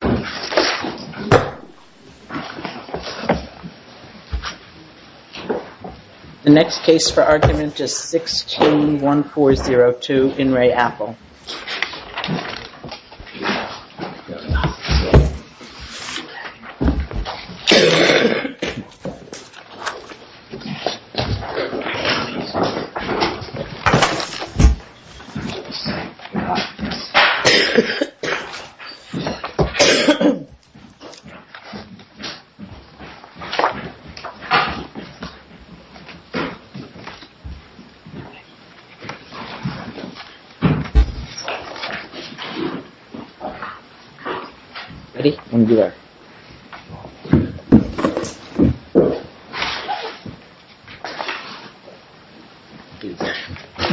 The next case for argument is 161402 In Re Apple.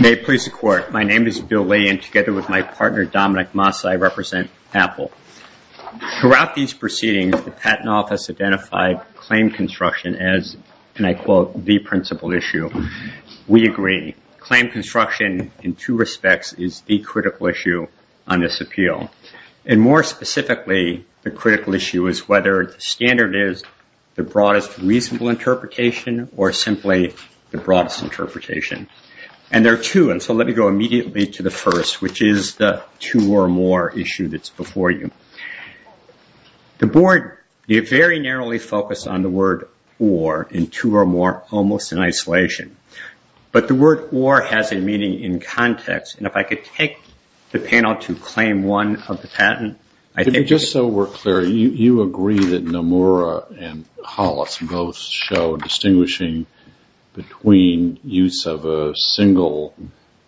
May it please the court, my name is Bill Lay and together with my partner Dominic Moss I represent Apple. Throughout these proceedings the patent office identified claim construction as, and I quote, the principal issue. We agree. Claim construction in two respects is the critical issue on this appeal. And more specifically the critical issue is whether the standard is the broadest reasonable interpretation or simply the broadest interpretation. There are two. Let me go immediately to the first, which is the two or more issue that is before you. The board very narrowly focused on the word or in two or more almost in isolation. But the word or has a meaning in context and if I could take the panel to claim one of the patent. Just so we're clear, you agree that Nomura and Hollis both show distinguishing between use of a single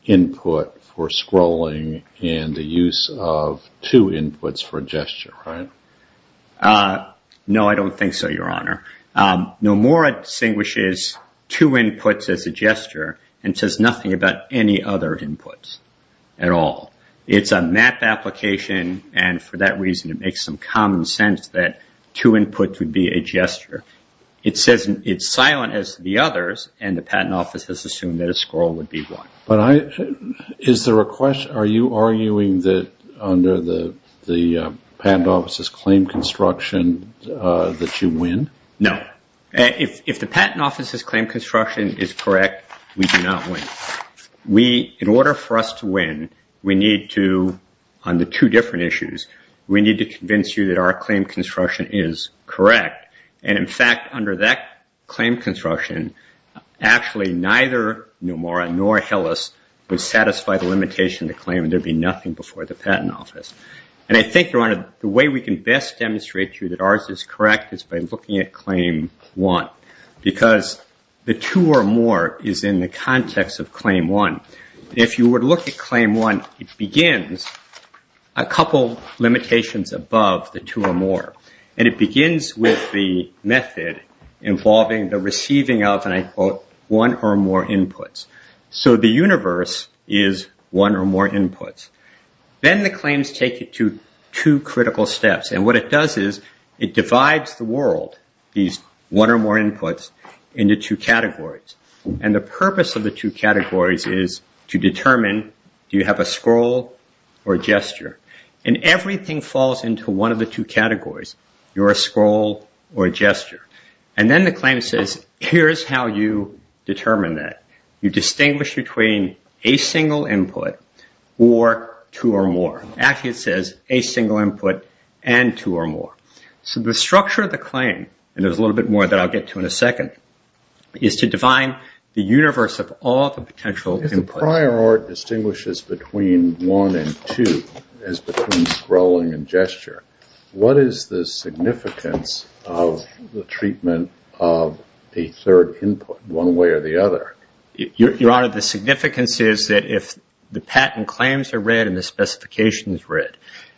input for scrolling and the use of two inputs for gesture, right? No, I don't think so, your honor. Nomura distinguishes two inputs as a gesture and says nothing about any other inputs at all. It's a map application and for that reason it makes some common sense that two inputs would be a gesture. It says it's silent as the others and the patent office has assumed that a scroll would be one. But is there a question? Are you arguing that under the patent office's claim construction that you win? No. If the patent office's claim construction is correct, we do not win. We, in order for us to win, we need to, on the two different issues, we need to convince you that our claim construction is correct and in fact under that claim construction actually neither Nomura nor Hollis would satisfy the limitation to claim and there'd be nothing before the patent office. I think, your honor, the way we can best demonstrate to you that ours is correct is by looking at claim one because the two or more is in the context of claim one. If you were to look at claim one, it begins a couple of limitations above the two or more and it begins with the method involving the receiving of, and I quote, one or more inputs. So the universe is one or more inputs. Then the claims take it to two critical steps and what it does is it divides the world, these one or more inputs, into two categories. And the purpose of the two categories is to determine, do you have a scroll or a gesture? And everything falls into one of the two categories, you're a scroll or a gesture. And then the claim says, here's how you determine that. You distinguish between a single input or two or more. Actually it says a single input and two or more. So the structure of the claim, and there's a little bit more that I'll get to in a second, is to define the universe of all the potential inputs. If the prior art distinguishes between one and two, as between scrolling and gesture, what is the significance of the treatment of a third input, one way or the other? Your Honor, the significance is that if the patent claims are read and the specification is read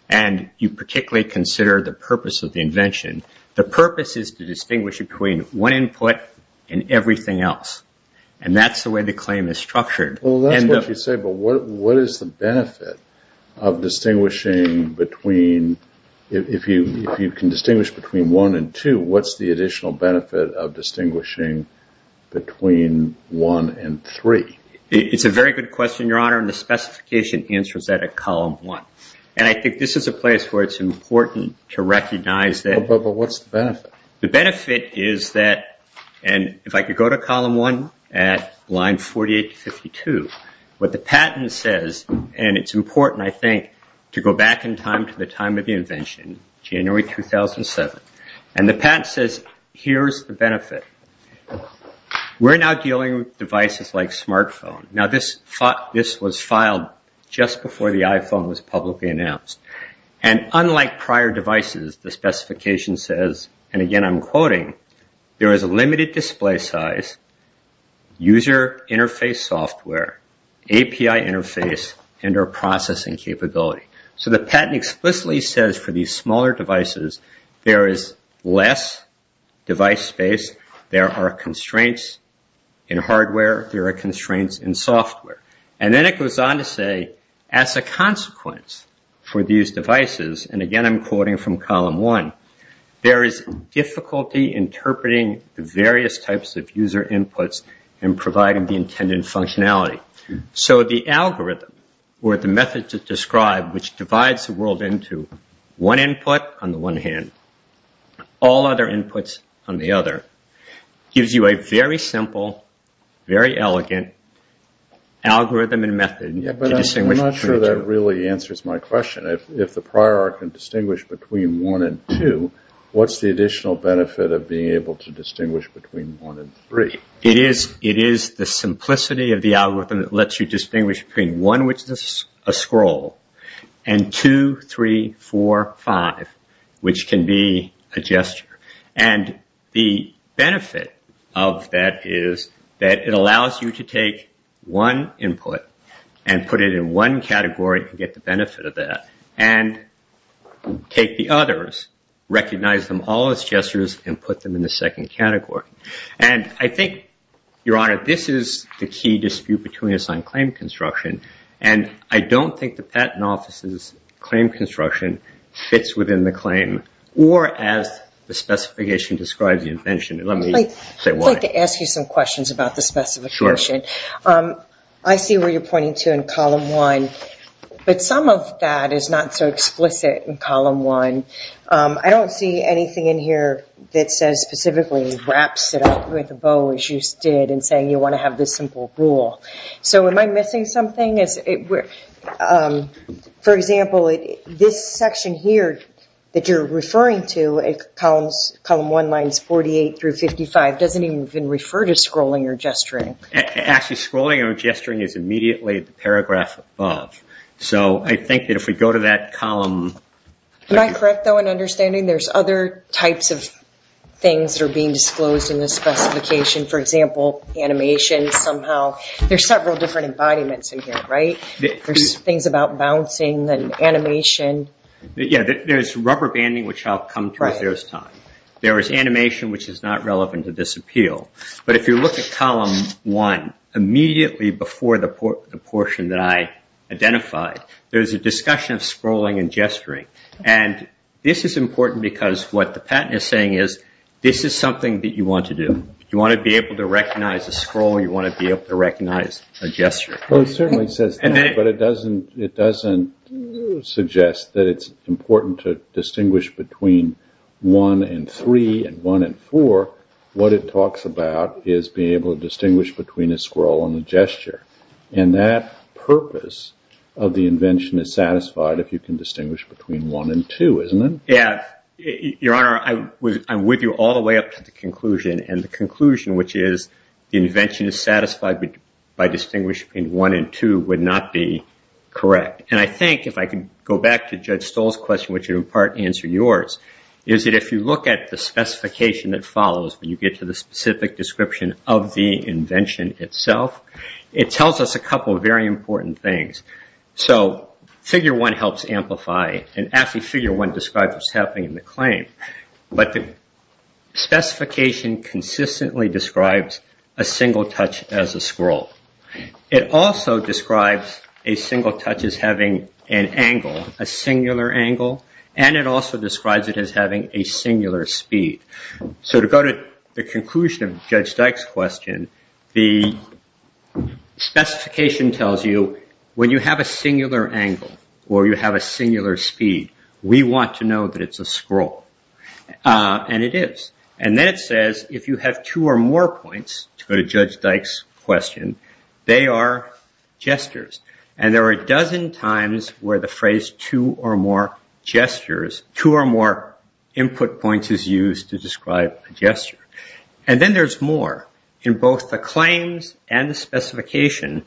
and you particularly consider the purpose of the invention, the purpose is to distinguish between one input and everything else. Well, that's what you say, but what is the benefit of distinguishing between, if you can distinguish between one and two, what's the additional benefit of distinguishing between one and three? It's a very good question, Your Honor, and the specification answers that at column one. And I think this is a place where it's important to recognize that. But what's the benefit? The benefit is that, and if I could go to column one at line 48-52, what the patent says, and it's important, I think, to go back in time to the time of the invention, January 2007. And the patent says, here's the benefit. We're now dealing with devices like smartphone. Now, this was filed just before the iPhone was publicly announced. And unlike prior devices, the specification says, and again I'm quoting, there is a limited display size, user interface software, API interface, and or processing capability. So the patent explicitly says for these smaller devices, there is less device space, there are constraints in hardware, there are constraints in software. And then it goes on to say, as a consequence for these devices, and again I'm quoting from column one, there is difficulty interpreting the various types of user inputs and providing the intended functionality. So the algorithm, or the method to describe which divides the world into one input on the one hand, all other inputs on the other, gives you a very simple, very elegant algorithm and method to distinguish between the two. I'm not sure that really answers my question. If the prior can distinguish between one and two, what's the additional benefit of being able to distinguish between one and three? It is the simplicity of the algorithm that lets you distinguish between one, which is a scroll, and two, three, four, five, which can be a gesture. And the benefit of that is that it allows you to take one input and put it in one category and get the benefit of that. And take the others, recognize them all as gestures, and put them in the second category. And I think, Your Honor, this is the key dispute between us on claim construction. And I don't think the Patent Office's claim construction fits within the claim or as the specification describes you mentioned. Let me say why. I'd like to ask you some questions about the specification. I see where you're pointing to in Column 1, but some of that is not so explicit in Column 1. I don't see anything in here that says specifically wraps it up with a bow, as you did in saying you want to have this simple rule. So am I missing something? Yes. For example, this section here that you're referring to in Column 1, lines 48 through 55, doesn't even refer to scrolling or gesturing. Actually, scrolling or gesturing is immediately the paragraph above. So I think that if we go to that column... Am I correct, though, in understanding there's other types of things that are being disclosed in this specification? For example, animation somehow. There's several different embodiments in here, right? There's things about bouncing and animation. Yeah, there's rubber banding, which I'll come to as there's time. There is animation, which is not relevant to this appeal. But if you look at Column 1, immediately before the portion that I identified, there's a discussion of scrolling and gesturing. And this is important because what the patent is saying is, this is something that you want to do. You want to be able to recognize a scroll. You want to be able to recognize a gesture. Well, it certainly says that, but it doesn't suggest that it's important to distinguish between 1 and 3 and 1 and 4. What it talks about is being able to distinguish between a scroll and a gesture. And that purpose of the invention is satisfied if you can distinguish between 1 and 2, isn't it? Yeah, Your Honor, I'm with you all the way up to the conclusion. And the conclusion, which is the invention is satisfied by distinguishing between 1 and 2, would not be correct. And I think, if I can go back to Judge Stoll's question, which in part answered yours, is that if you look at the specification that follows when you get to the specific description of the invention itself, it tells us a couple of very important things. So Figure 1 helps amplify. And actually, Figure 1 describes what's happening in the claim. But the specification consistently describes a single touch as a scroll. It also describes a single touch as having an angle, a singular angle. And it also describes it as having a singular speed. So to go to the conclusion of Judge Dyke's question, the specification tells you when you have a singular angle or you have a singular speed, we want to know that it's a scroll. And it is. And then it says, if you have two or more points, to go to Judge Dyke's question, they are gestures. And there are a dozen times where the phrase two or more gestures, two or more input points is used to describe a gesture. And then there's more. In both the claims and the specification,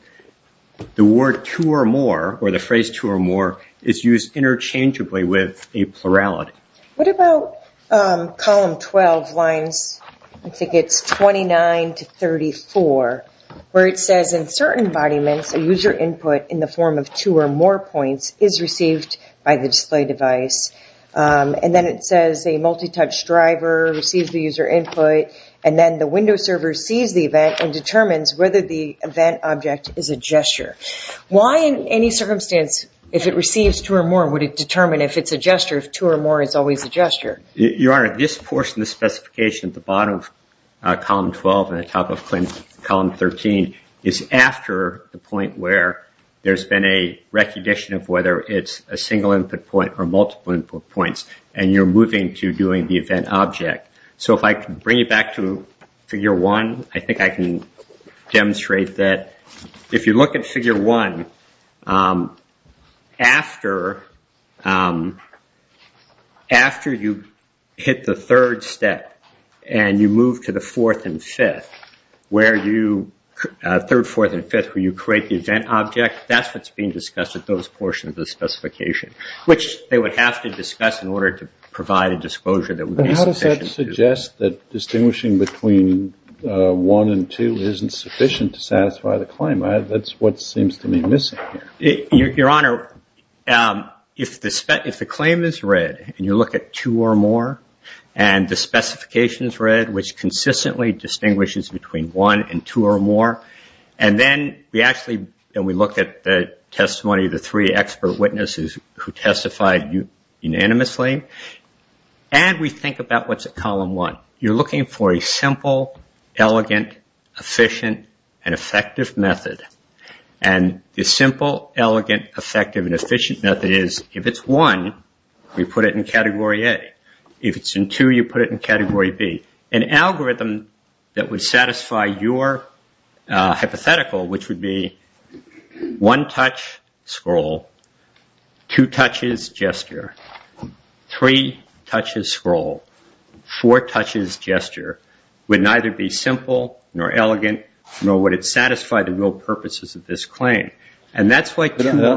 the word two or more or the phrase two or more is used interchangeably with a plurality. What about column 12 lines, I think it's 29 to 34, where it says, in certain embodiments, a user input in the form of two or more points is received by the display device. And then it says a multi-touch driver receives the user input. And then the Windows server sees the event and determines whether the event object is a gesture. Why in any circumstance, if it receives two or more, would it determine if it's a gesture if two or more is always a gesture? Your Honor, this portion of the specification at the bottom of column 12 and the top of column 13 is after the point where there's been a recognition of whether it's a single input point or multiple input points. And you're moving to doing the event object. So if I can bring it back to figure one, I think I can demonstrate that if you look at after you hit the third step and you move to the fourth and fifth, where you create the event object, that's what's being discussed at those portions of the specification, which they would have to discuss in order to provide a disclosure that would be sufficient. And how does that suggest that distinguishing between one and two isn't sufficient to satisfy the claim? That's what seems to me missing here. Your Honor, if the claim is read and you look at two or more and the specification is read, which consistently distinguishes between one and two or more, and then we actually look at the testimony of the three expert witnesses who testified unanimously, and we think about what's at column one. You're looking for a simple, elegant, efficient, and effective method. And the simple, elegant, effective, and efficient method is if it's one, we put it in category A. If it's in two, you put it in category B. An algorithm that would satisfy your hypothetical, which would be one-touch scroll, two-touches gesture, three-touches scroll, four-touches gesture, would neither be simple nor elegant nor would it satisfy the real purposes of this claim. And that's why two or more...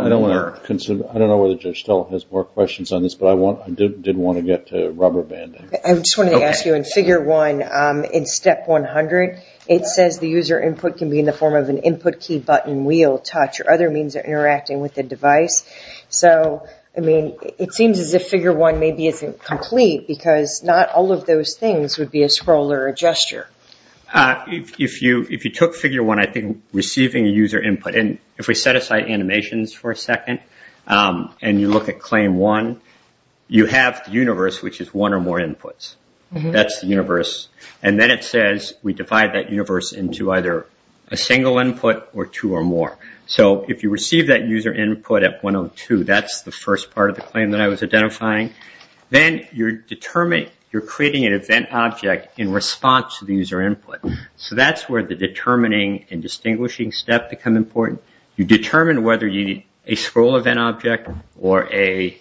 I don't know whether Judge Stoll has more questions on this, but I did want to get to rubber banding. I just wanted to ask you, in figure one, in step 100, it says the user input can be in the form of an input key button, wheel, touch, or other means of interacting with the device. So, I mean, it seems as if figure one maybe isn't complete because not all of those things would be a scroll or a gesture. If you took figure one, I think receiving a user input... And if we set aside animations for a second and you look at claim one, you have the universe, which is one or more inputs. That's the universe. And then it says we divide that universe into either a single input or two or more. So if you receive that user input at 102, that's the first part of the claim that I was identifying. Then you're creating an event object in response to the user input. So that's where the determining and distinguishing step become important. You determine whether you need a scroll event object or a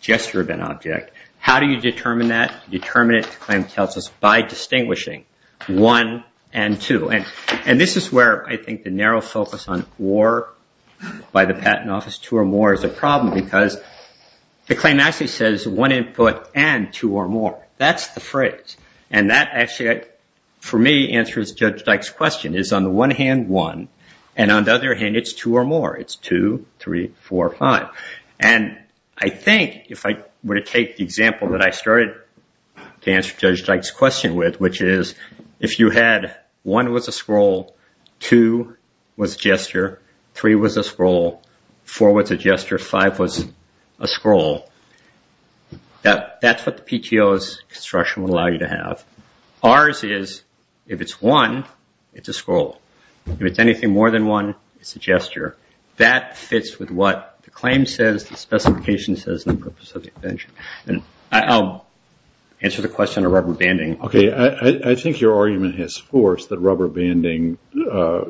gesture event object. How do you determine that? Determinant claim tells us by distinguishing one and two. And this is where I think the narrow focus on or by the patent office, two or more, is one input and two or more. That's the phrase. And that actually, for me, answers Judge Dyke's question. It's on the one hand, one. And on the other hand, it's two or more. It's two, three, four, five. And I think if I were to take the example that I started to answer Judge Dyke's question with, which is if you had one was a scroll, two was gesture, three was a scroll, four was a gesture, five was a scroll, that's what the PTO's instruction would allow you to have. Ours is, if it's one, it's a scroll. If it's anything more than one, it's a gesture. That fits with what the claim says, the specification says, and the purpose of the invention. And I'll answer the question of rubber banding. Okay, I think your argument has forced that rubber banding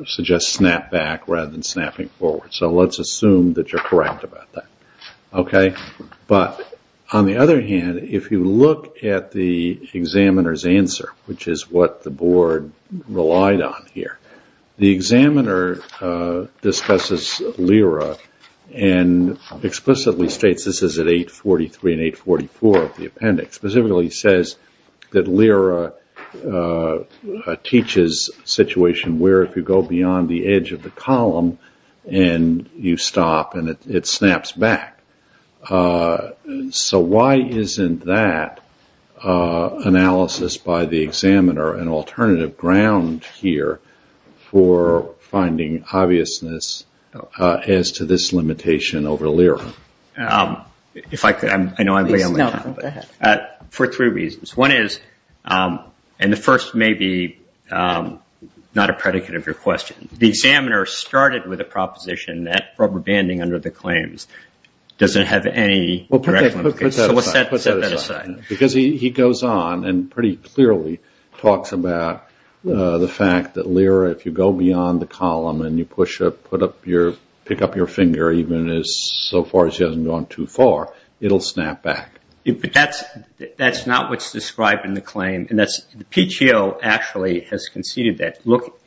suggests snap back rather than snapping forward. Let's assume that you're correct about that. But on the other hand, if you look at the examiner's answer, which is what the board relied on here, the examiner discusses LERA and explicitly states this is at 843 and 844 of the appendix. Specifically, he says that LERA teaches a situation where if you go beyond the edge of the column, and you stop, and it snaps back. So why isn't that analysis by the examiner an alternative ground here for finding obviousness as to this limitation over LERA? If I could, I know I'm way on my time, but for three reasons. One is, and the first may be not a predicate of your question. The examiner started with a proposition that rubber banding under the claims doesn't have any direct limitations. So let's set that aside. Because he goes on and pretty clearly talks about the fact that LERA, if you go beyond the column and you pick up your finger even so far as you haven't gone too far, it'll snap back. That's not what's described in the claim. And the PTO actually has conceded that.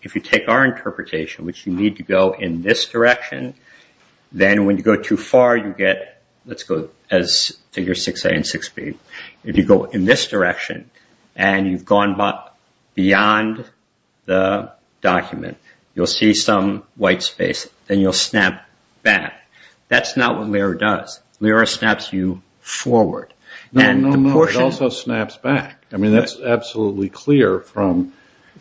If you take our interpretation, which you need to go in this direction, then when you go too far, you get, let's go as figure 6a and 6b. If you go in this direction, and you've gone beyond the document, you'll see some white space. Then you'll snap back. That's not what LERA does. LERA snaps you forward. No, it also snaps back. That's absolutely clear from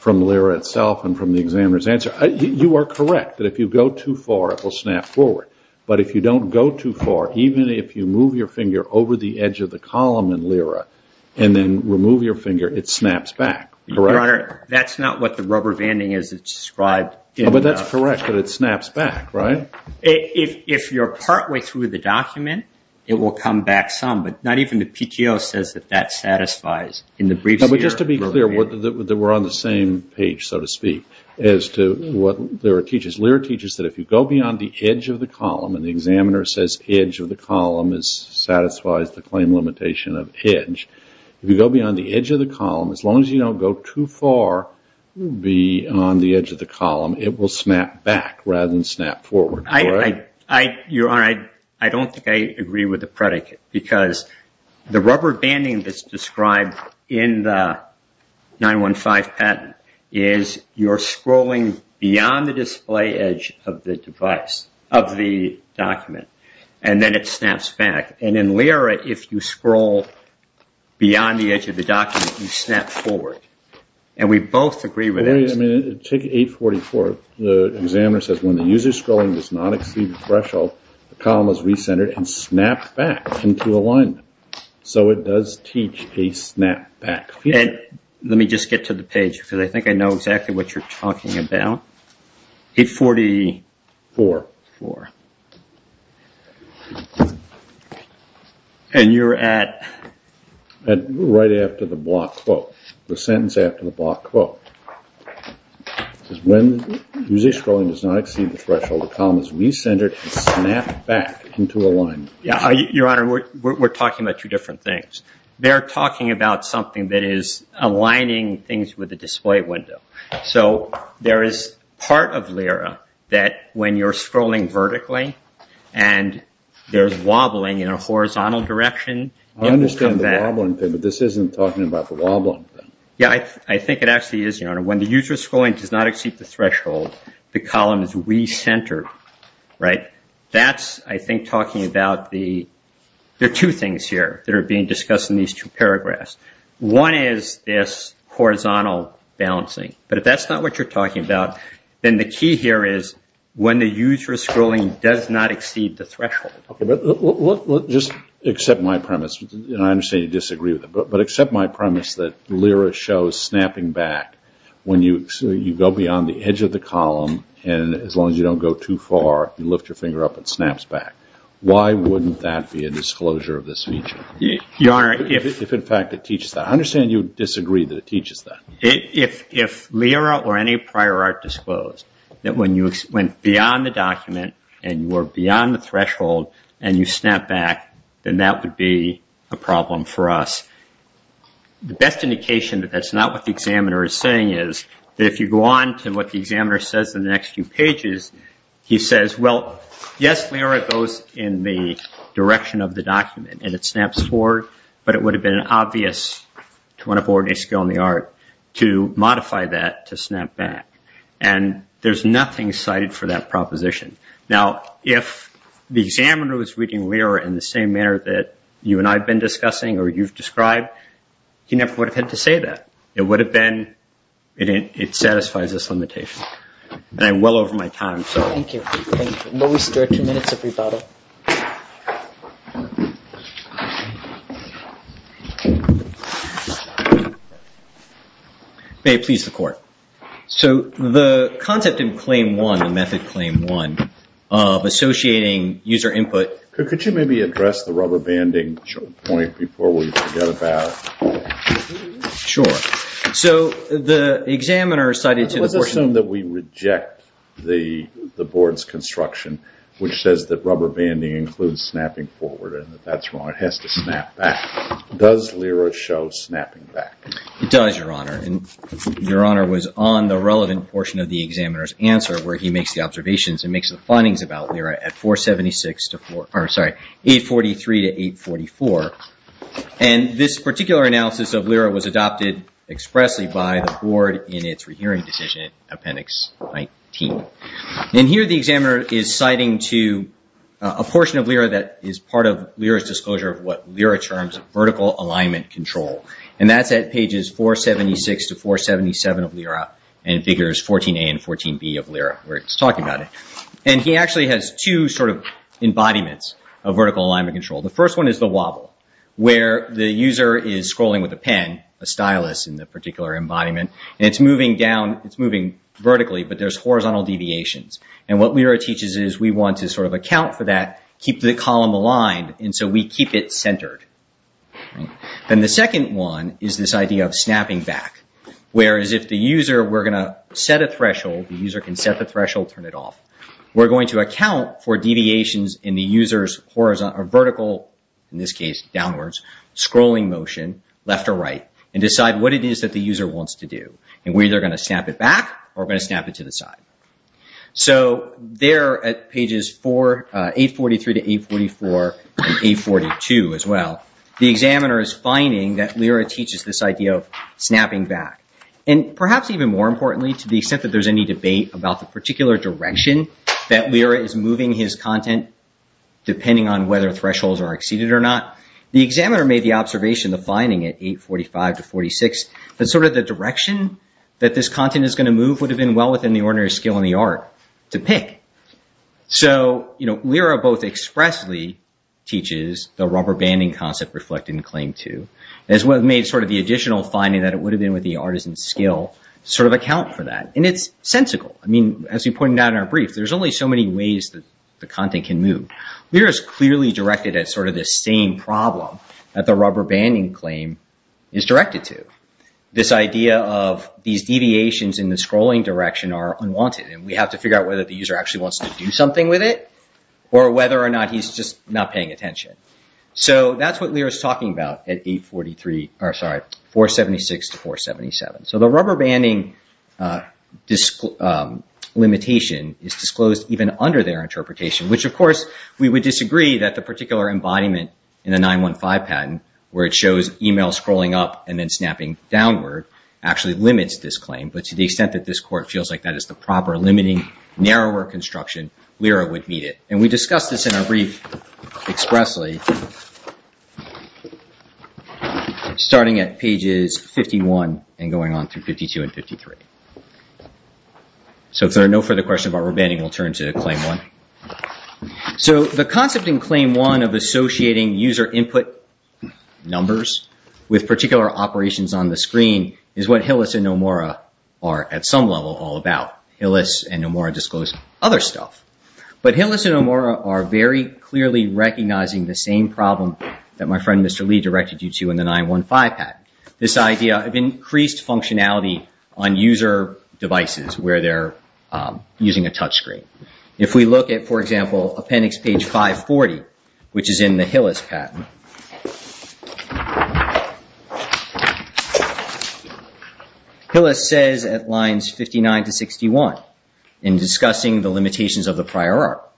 LERA itself and from the examiner's answer. You are correct that if you go too far, it will snap forward. But if you don't go too far, even if you move your finger over the edge of the column in LERA and then remove your finger, it snaps back. That's not what the rubber banding is described. But that's correct. But it snaps back, right? If you're partway through the document, it will come back some. Not even the PTO says that that satisfies. Just to be clear, we're on the same page, so to speak, as to what LERA teaches. LERA teaches that if you go beyond the edge of the column, and the examiner says edge of the column satisfies the claim limitation of edge, if you go beyond the edge of the column, as long as you don't go too far beyond the edge of the column, it will snap back rather than snap forward. I don't think I agree with the predicate, because the rubber banding that's described in the 915 patent is you're scrolling beyond the display edge of the document, and then it snaps back. And in LERA, if you scroll beyond the edge of the document, you snap forward. And we both agree with that. Take 844. The examiner says when the user scrolling does not exceed the threshold, the column is recentered and snapped back into alignment. So it does teach a snap back feature. Let me just get to the page, because I think I know exactly what you're talking about. 844. And you're at? Right after the block quote. The sentence after the block quote. It says when the user scrolling does not exceed the threshold, the column is recentered and snapped back into alignment. Yeah, Your Honor, we're talking about two different things. They're talking about something that is aligning things with the display window. So there is part of LERA that when you're scrolling vertically and there's wobbling in a horizontal direction, it will come back. I understand the wobbling thing, but this isn't talking about the wobbling thing. Yeah, I think it actually is, Your Honor. When the user scrolling does not exceed the threshold, the column is recentered, right? That's, I think, talking about the two things here that are being discussed in these two paragraphs. One is this horizontal balancing. But if that's not what you're talking about, then the key here is when the user scrolling does not exceed the threshold. Just accept my premise. I understand you disagree with it, but accept my premise that LERA shows snapping back. When you go beyond the edge of the column, and as long as you don't go too far, you lift your finger up and it snaps back. Why wouldn't that be a disclosure of this feature? Your Honor, if... If, in fact, it teaches that. I understand you disagree that it teaches that. If LERA or any prior art disclosed that when you went beyond the document and you were beyond the threshold and you snapped back, then that would be a problem for us. The best indication that that's not what the examiner is saying is that if you go on to what the examiner says in the next few pages, he says, well, yes, LERA goes in the direction of the document and it snaps forward. But it would have been obvious to want to board a skill in the art to modify that to snap back. And there's nothing cited for that proposition. Now, if the examiner was reading LERA in the same manner that you and I have been discussing or you've described, he never would have had to say that. It would have been... It satisfies this limitation. And I'm well over my time, so... Thank you. Thank you. Will we start two minutes of rebuttal? May it please the Court. So the concept in Claim 1, the Method Claim 1, of associating user input... Sure. So the examiner cited... Let's assume that we reject the board's construction, which says that rubber banding includes snapping forward and that that's wrong. It has to snap back. Does LERA show snapping back? It does, Your Honor. And Your Honor was on the relevant portion of the examiner's answer where he makes the observations and makes the findings about LERA at 476 to 4... And this particular analysis of LERA was adopted expressly by the board in its rehearing decision, Appendix 19. And here the examiner is citing to a portion of LERA that is part of LERA's disclosure of what LERA terms vertical alignment control. And that's at pages 476 to 477 of LERA and figures 14a and 14b of LERA where it's talking about it. And he actually has two sort of embodiments of vertical alignment control. The first one is the wobble, where the user is scrolling with a pen, a stylus in the particular embodiment, and it's moving down... It's moving vertically, but there's horizontal deviations. And what LERA teaches is we want to sort of account for that, keep the column aligned, and so we keep it centered. Then the second one is this idea of snapping back, whereas if the user... We're going to set a threshold. The user can set the threshold, turn it off. We're going to account for deviations in the user's vertical, in this case downwards, scrolling motion, left or right, and decide what it is that the user wants to do. And we're either going to snap it back or we're going to snap it to the side. So there at pages 843 to 844 and 842 as well, the examiner is finding that LERA teaches this idea of snapping back. And perhaps even more importantly, to the extent that there's any debate about the particular direction that LERA is moving his content, depending on whether thresholds are exceeded or not, the examiner made the observation, the finding at 845 to 846, that sort of the direction that this content is going to move would have been well within the ordinary skill in the art to pick. So LERA both expressly teaches the rubber banding concept reflected in claim two, as well as made sort of the additional finding that it would have been with the artisan skill sort of account for that. And it's sensical. I mean, as we pointed out in our brief, there's only so many ways that the content can move. LERA is clearly directed at sort of the same problem that the rubber banding claim is directed to. This idea of these deviations in the scrolling direction are unwanted. And we have to figure out whether the user actually wants to do something with it or whether or not he's just not paying attention. So that's what LERA is talking about at 843, or sorry, 476 to 477. So the rubber banding limitation is disclosed even under their interpretation, which, of course, we would disagree that the particular embodiment in the 915 patent, where it shows email scrolling up and then snapping downward, actually limits this claim. But to the extent that this court feels like that is the proper limiting narrower construction, LERA would meet it. We discussed this in our brief expressly, starting at pages 51 and going on through 52 and 53. So if there are no further questions about rubber banding, we'll turn to Claim 1. So the concept in Claim 1 of associating user input numbers with particular operations on the screen is what Hillis and Nomura are, at some level, all about. Hillis and Nomura disclose other stuff. But Hillis and Nomura are very clearly recognizing the same problem that my friend Mr. Lee directed you to in the 915 patent, this idea of increased functionality on user devices where they're using a touchscreen. If we look at, for example, appendix page 540, which is in the Hillis patent, Hillis says at lines 59 to 61, in discussing the limitations of the prior art,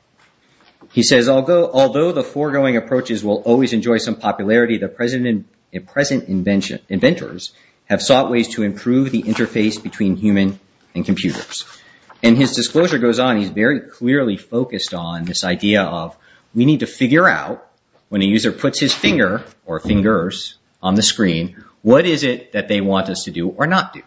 he says, although the foregoing approaches will always enjoy some popularity, the present inventors have sought ways to improve the interface between human and computers. And his disclosure goes on, he's very clearly focused on this idea of we need to figure out when a user puts his finger or fingers on the screen, what is it that they want us to do or not do?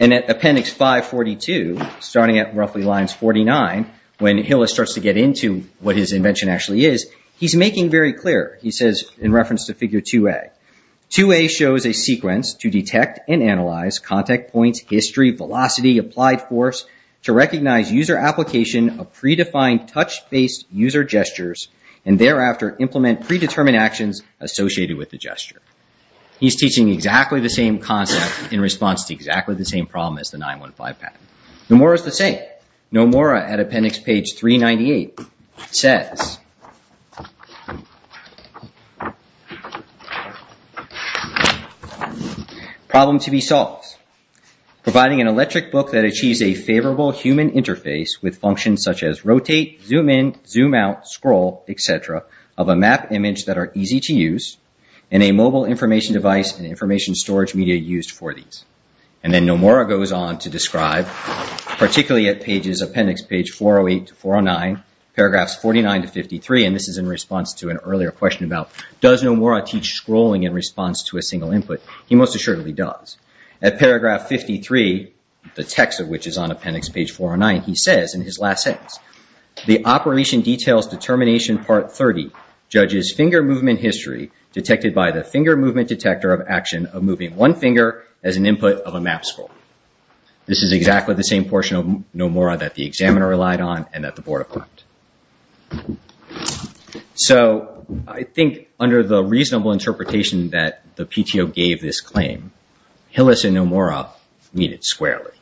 And at appendix 542, starting at roughly lines 49, when Hillis starts to get into what his invention actually is, he's making very clear. He says, in reference to figure 2a, 2a shows a sequence to detect and analyze contact points, history, velocity, applied force, to recognize user application of predefined touch-based user gestures, and thereafter implement predetermined actions associated with the gesture. He's teaching exactly the same concept in response to exactly the same problem as the 915 patent. Nomura is the same. Nomura at appendix page 398 says, problem to be solved. Providing an electric book that achieves a favorable human interface with functions such as rotate, zoom in, zoom out, scroll, etc., of a map image that are easy to use, and a mobile information device and information storage media used for these. And then Nomura goes on to describe, particularly at appendix page 408 to 409, paragraphs 49 to 53, and this is in response to an earlier question about does Nomura teach scrolling in response to a single input? He most assuredly does. At paragraph 53, the text of which is on appendix page 409, he says in his last sentence, the operation details determination part 30, judges finger movement history detected by the finger movement detector of action of moving one finger as an input of a map scroll. This is exactly the same portion of Nomura that the examiner relied on, and that the board approved. So, I think under the reasonable interpretation that the PTO gave this claim, Hillis and Nomura meet it squarely.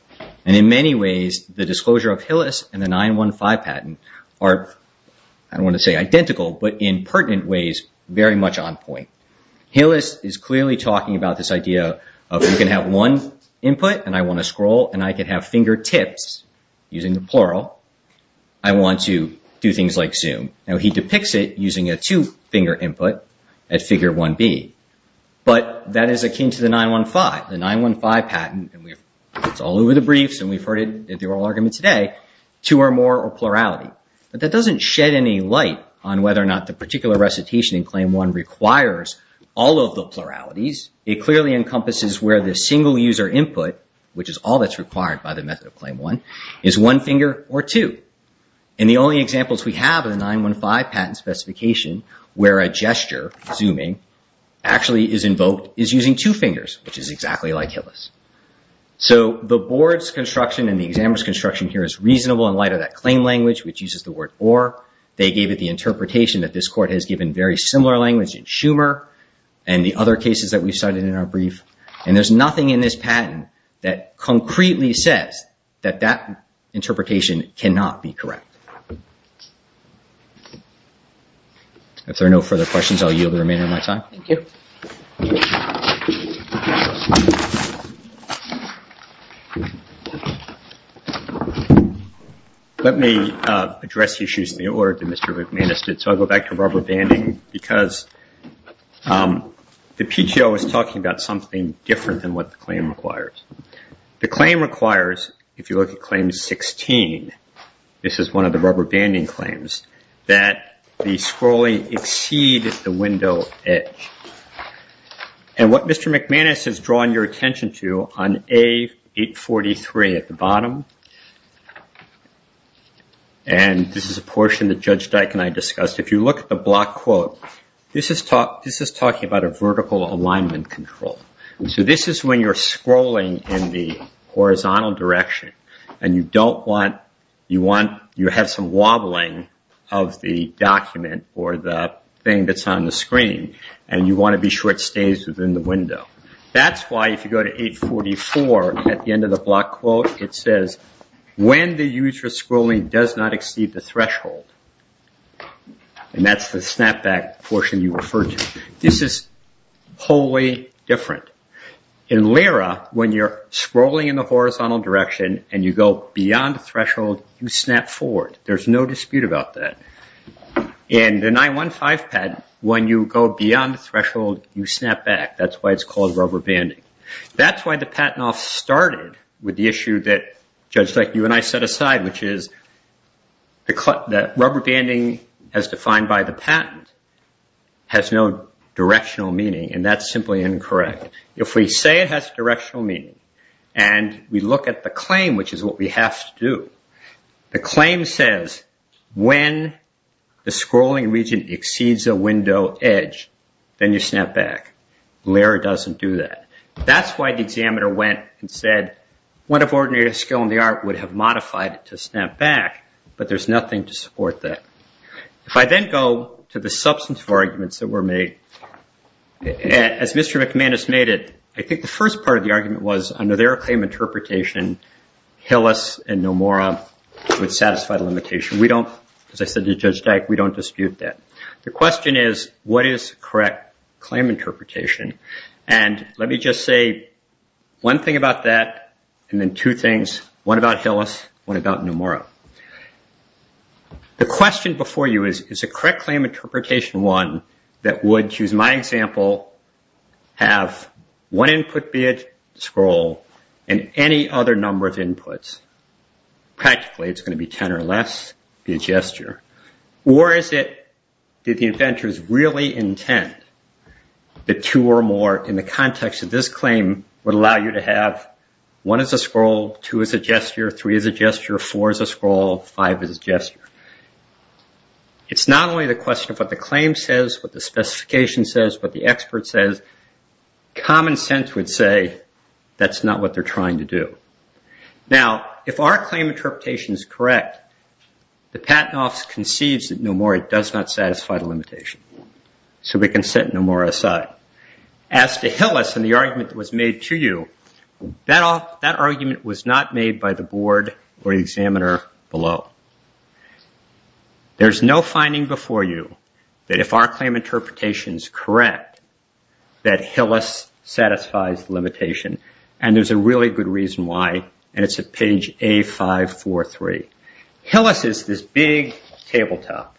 And in many ways, the disclosure of Hillis and the 915 patent are, I don't want to say identical, but in pertinent ways, very much on point. Hillis is clearly talking about this idea of you can have one input, and I want to scroll, and I can have fingertips, using the plural. I want to do things like zoom. Now, he depicts it using a two-finger input at figure 1B, but that is akin to the 915, the 915 patent. And it's all over the briefs, and we've heard it in the oral argument today, two or more or plurality. But that doesn't shed any light on whether or not the particular recitation in claim one requires all of the pluralities. It clearly encompasses where the single user input, which is all that's required by the method of claim one, is one finger or two. And the only examples we have of the 915 patent specification where a gesture, zooming, actually is invoked is using two fingers, which is exactly like Hillis. So the board's construction and the examiner's construction here is reasonable in light of that claim language, which uses the word or. They gave it the interpretation that this court has given very similar language in Schumer and the other cases that we've cited in our brief. And there's nothing in this patent that concretely says that that interpretation cannot be correct. If there are no further questions, I'll yield the remainder of my time. Thank you. Let me address issues in the order that Mr. McMahon has did. I'll go back to rubber banding because the PTO is talking about something different than what the claim requires. The claim requires, if you look at claim 16, this is one of the rubber banding claims, that the scrolling exceed the window edge. And what Mr. McManus has drawn your attention to on A843 at the bottom, and this is a portion that Judge Dyke and I discussed, if you look at the block quote, this is talking about a vertical alignment control. So this is when you're scrolling in the horizontal direction and you have some wobbling of the document or the thing that's on the screen, and you want to be sure it stays within the window. That's why if you go to A844 at the end of the block quote, it says, when the user's And that's the snapback portion you referred to. This is wholly different. In LIRA, when you're scrolling in the horizontal direction and you go beyond the threshold, you snap forward. There's no dispute about that. In the 915 patent, when you go beyond the threshold, you snap back. That's why it's called rubber banding. That's why the Patent Office started with the issue that Judge Dyke and I set aside, which is that rubber banding, as defined by the patent, has no directional meaning, and that's simply incorrect. If we say it has directional meaning and we look at the claim, which is what we have to do, the claim says, when the scrolling region exceeds a window edge, then you snap back. LIRA doesn't do that. That's why the examiner went and said, what if ordinary skill in the art would have modified it to snap back? But there's nothing to support that. If I then go to the substance of arguments that were made, as Mr. McManus made it, I think the first part of the argument was, under their claim interpretation, Hillis and Nomura would satisfy the limitation. We don't, as I said to Judge Dyke, we don't dispute that. The question is, what is correct claim interpretation? And let me just say one thing about that and then two things. One about Hillis, one about Nomura. The question before you is, is a correct claim interpretation one that would, choose my example, have one input be a scroll and any other number of inputs? Practically, it's going to be 10 or less, be a gesture. Or is it, did the inventors really intend that two or more, in the context of this claim, would allow you to have one as a scroll, two as a gesture, three as a gesture, four as a scroll, five as a gesture? It's not only the question of what the claim says, what the specification says, what the expert says. Common sense would say, that's not what they're trying to do. Now, if our claim interpretation is correct, the Patent Office concedes that Nomura does not satisfy the limitation. So we can set Nomura aside. As to Hillis and the argument that was made to you, that argument was not made by the board or the examiner below. There's no finding before you that if our claim interpretation is correct, that Hillis satisfies the limitation. And there's a really good reason why, and it's at page A543. Hillis is this big tabletop.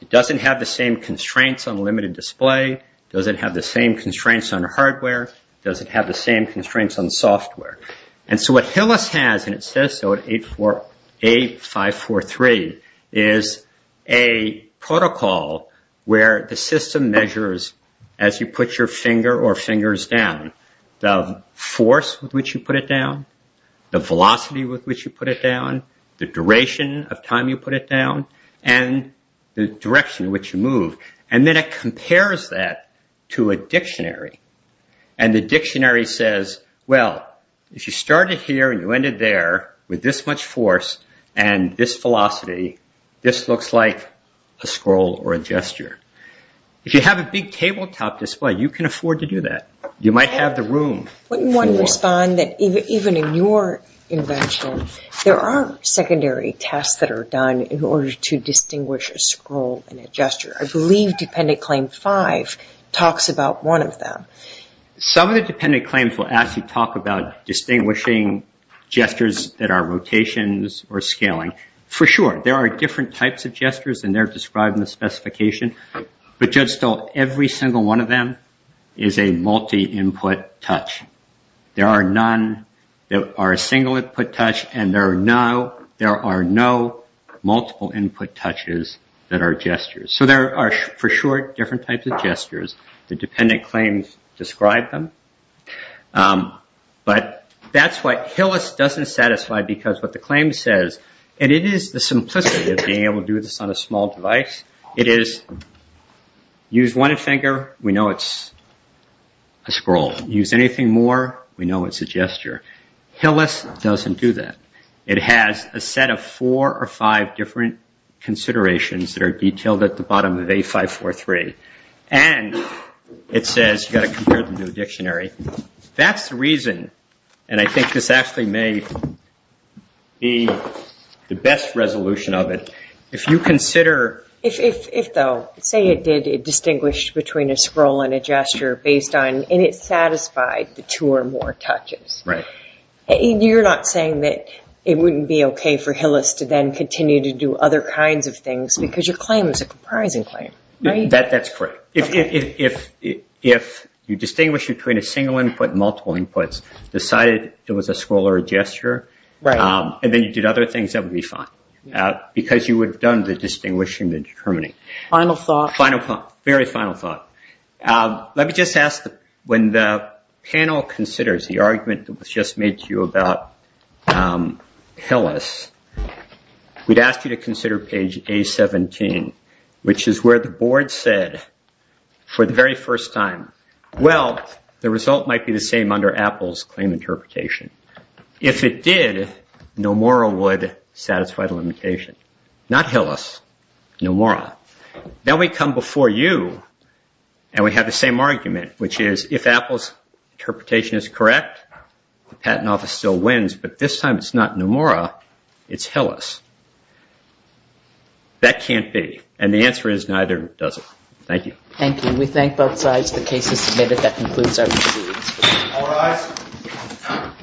It doesn't have the same constraints on limited display, doesn't have the same constraints on hardware, doesn't have the same constraints on software. And so what Hillis has, and it says so at A543, is a protocol where the system measures, as you put your finger or fingers down, the force with which you put it down, the velocity with which you put it down, the duration of time you put it down, and the direction in which you move. And then it compares that to a dictionary. And the dictionary says, well, if you started here and you ended there with this much force and this velocity, this looks like a scroll or a gesture. If you have a big tabletop display, you can afford to do that. You might have the room. Wouldn't one respond that even in your invention, there are secondary tasks that are done in order to distinguish a scroll and a gesture? I believe Dependent Claim 5 talks about one of them. Some of the dependent claims will actually talk about distinguishing gestures that are rotations or scaling. For sure, there are different types of gestures, and they're described in the specification. But just so every single one of them is a multi-input touch. There are none that are single-input touch, and there are no multiple-input touches that are gestures. So there are, for sure, different types of gestures. The dependent claims describe them. But that's what Hillis doesn't satisfy because what the claim says, and it is the simplicity of being able to do this on a small device. It is, use one finger, we know it's a scroll. Use anything more, we know it's a gesture. Hillis doesn't do that. It has a set of four or five different considerations that are detailed at the bottom of A543. And it says, you've got to compare them to a dictionary. That's the reason, and I think this actually may be the best resolution of it. If you consider... If, though, say it did distinguish between a scroll and a gesture based on, and it satisfied the two or more touches. You're not saying that it wouldn't be okay for Hillis to then continue to do other kinds of things because your claim is a comprising claim, right? That's correct. If you distinguish between a single input and multiple inputs, decided it was a scroll or a gesture, and then you did other things, that would be fine. Because you would have done the distinguishing, the determining. Final thought. Final thought. Very final thought. Let me just ask, when the panel considers the argument that was just made to you about Hillis, we'd ask you to consider page A17, which is where the board said for the very first time, well, the result might be the same under Apple's claim interpretation. If it did, Nomura would satisfy the limitation. Not Hillis, Nomura. Then we come before you, and we have the same argument, which is, if Apple's interpretation is correct, the Patent Office still wins, but this time it's not Nomura, it's Hillis. That can't be. And the answer is, neither does it. Thank you. Thank you. The case is submitted. That concludes our proceedings. All rise.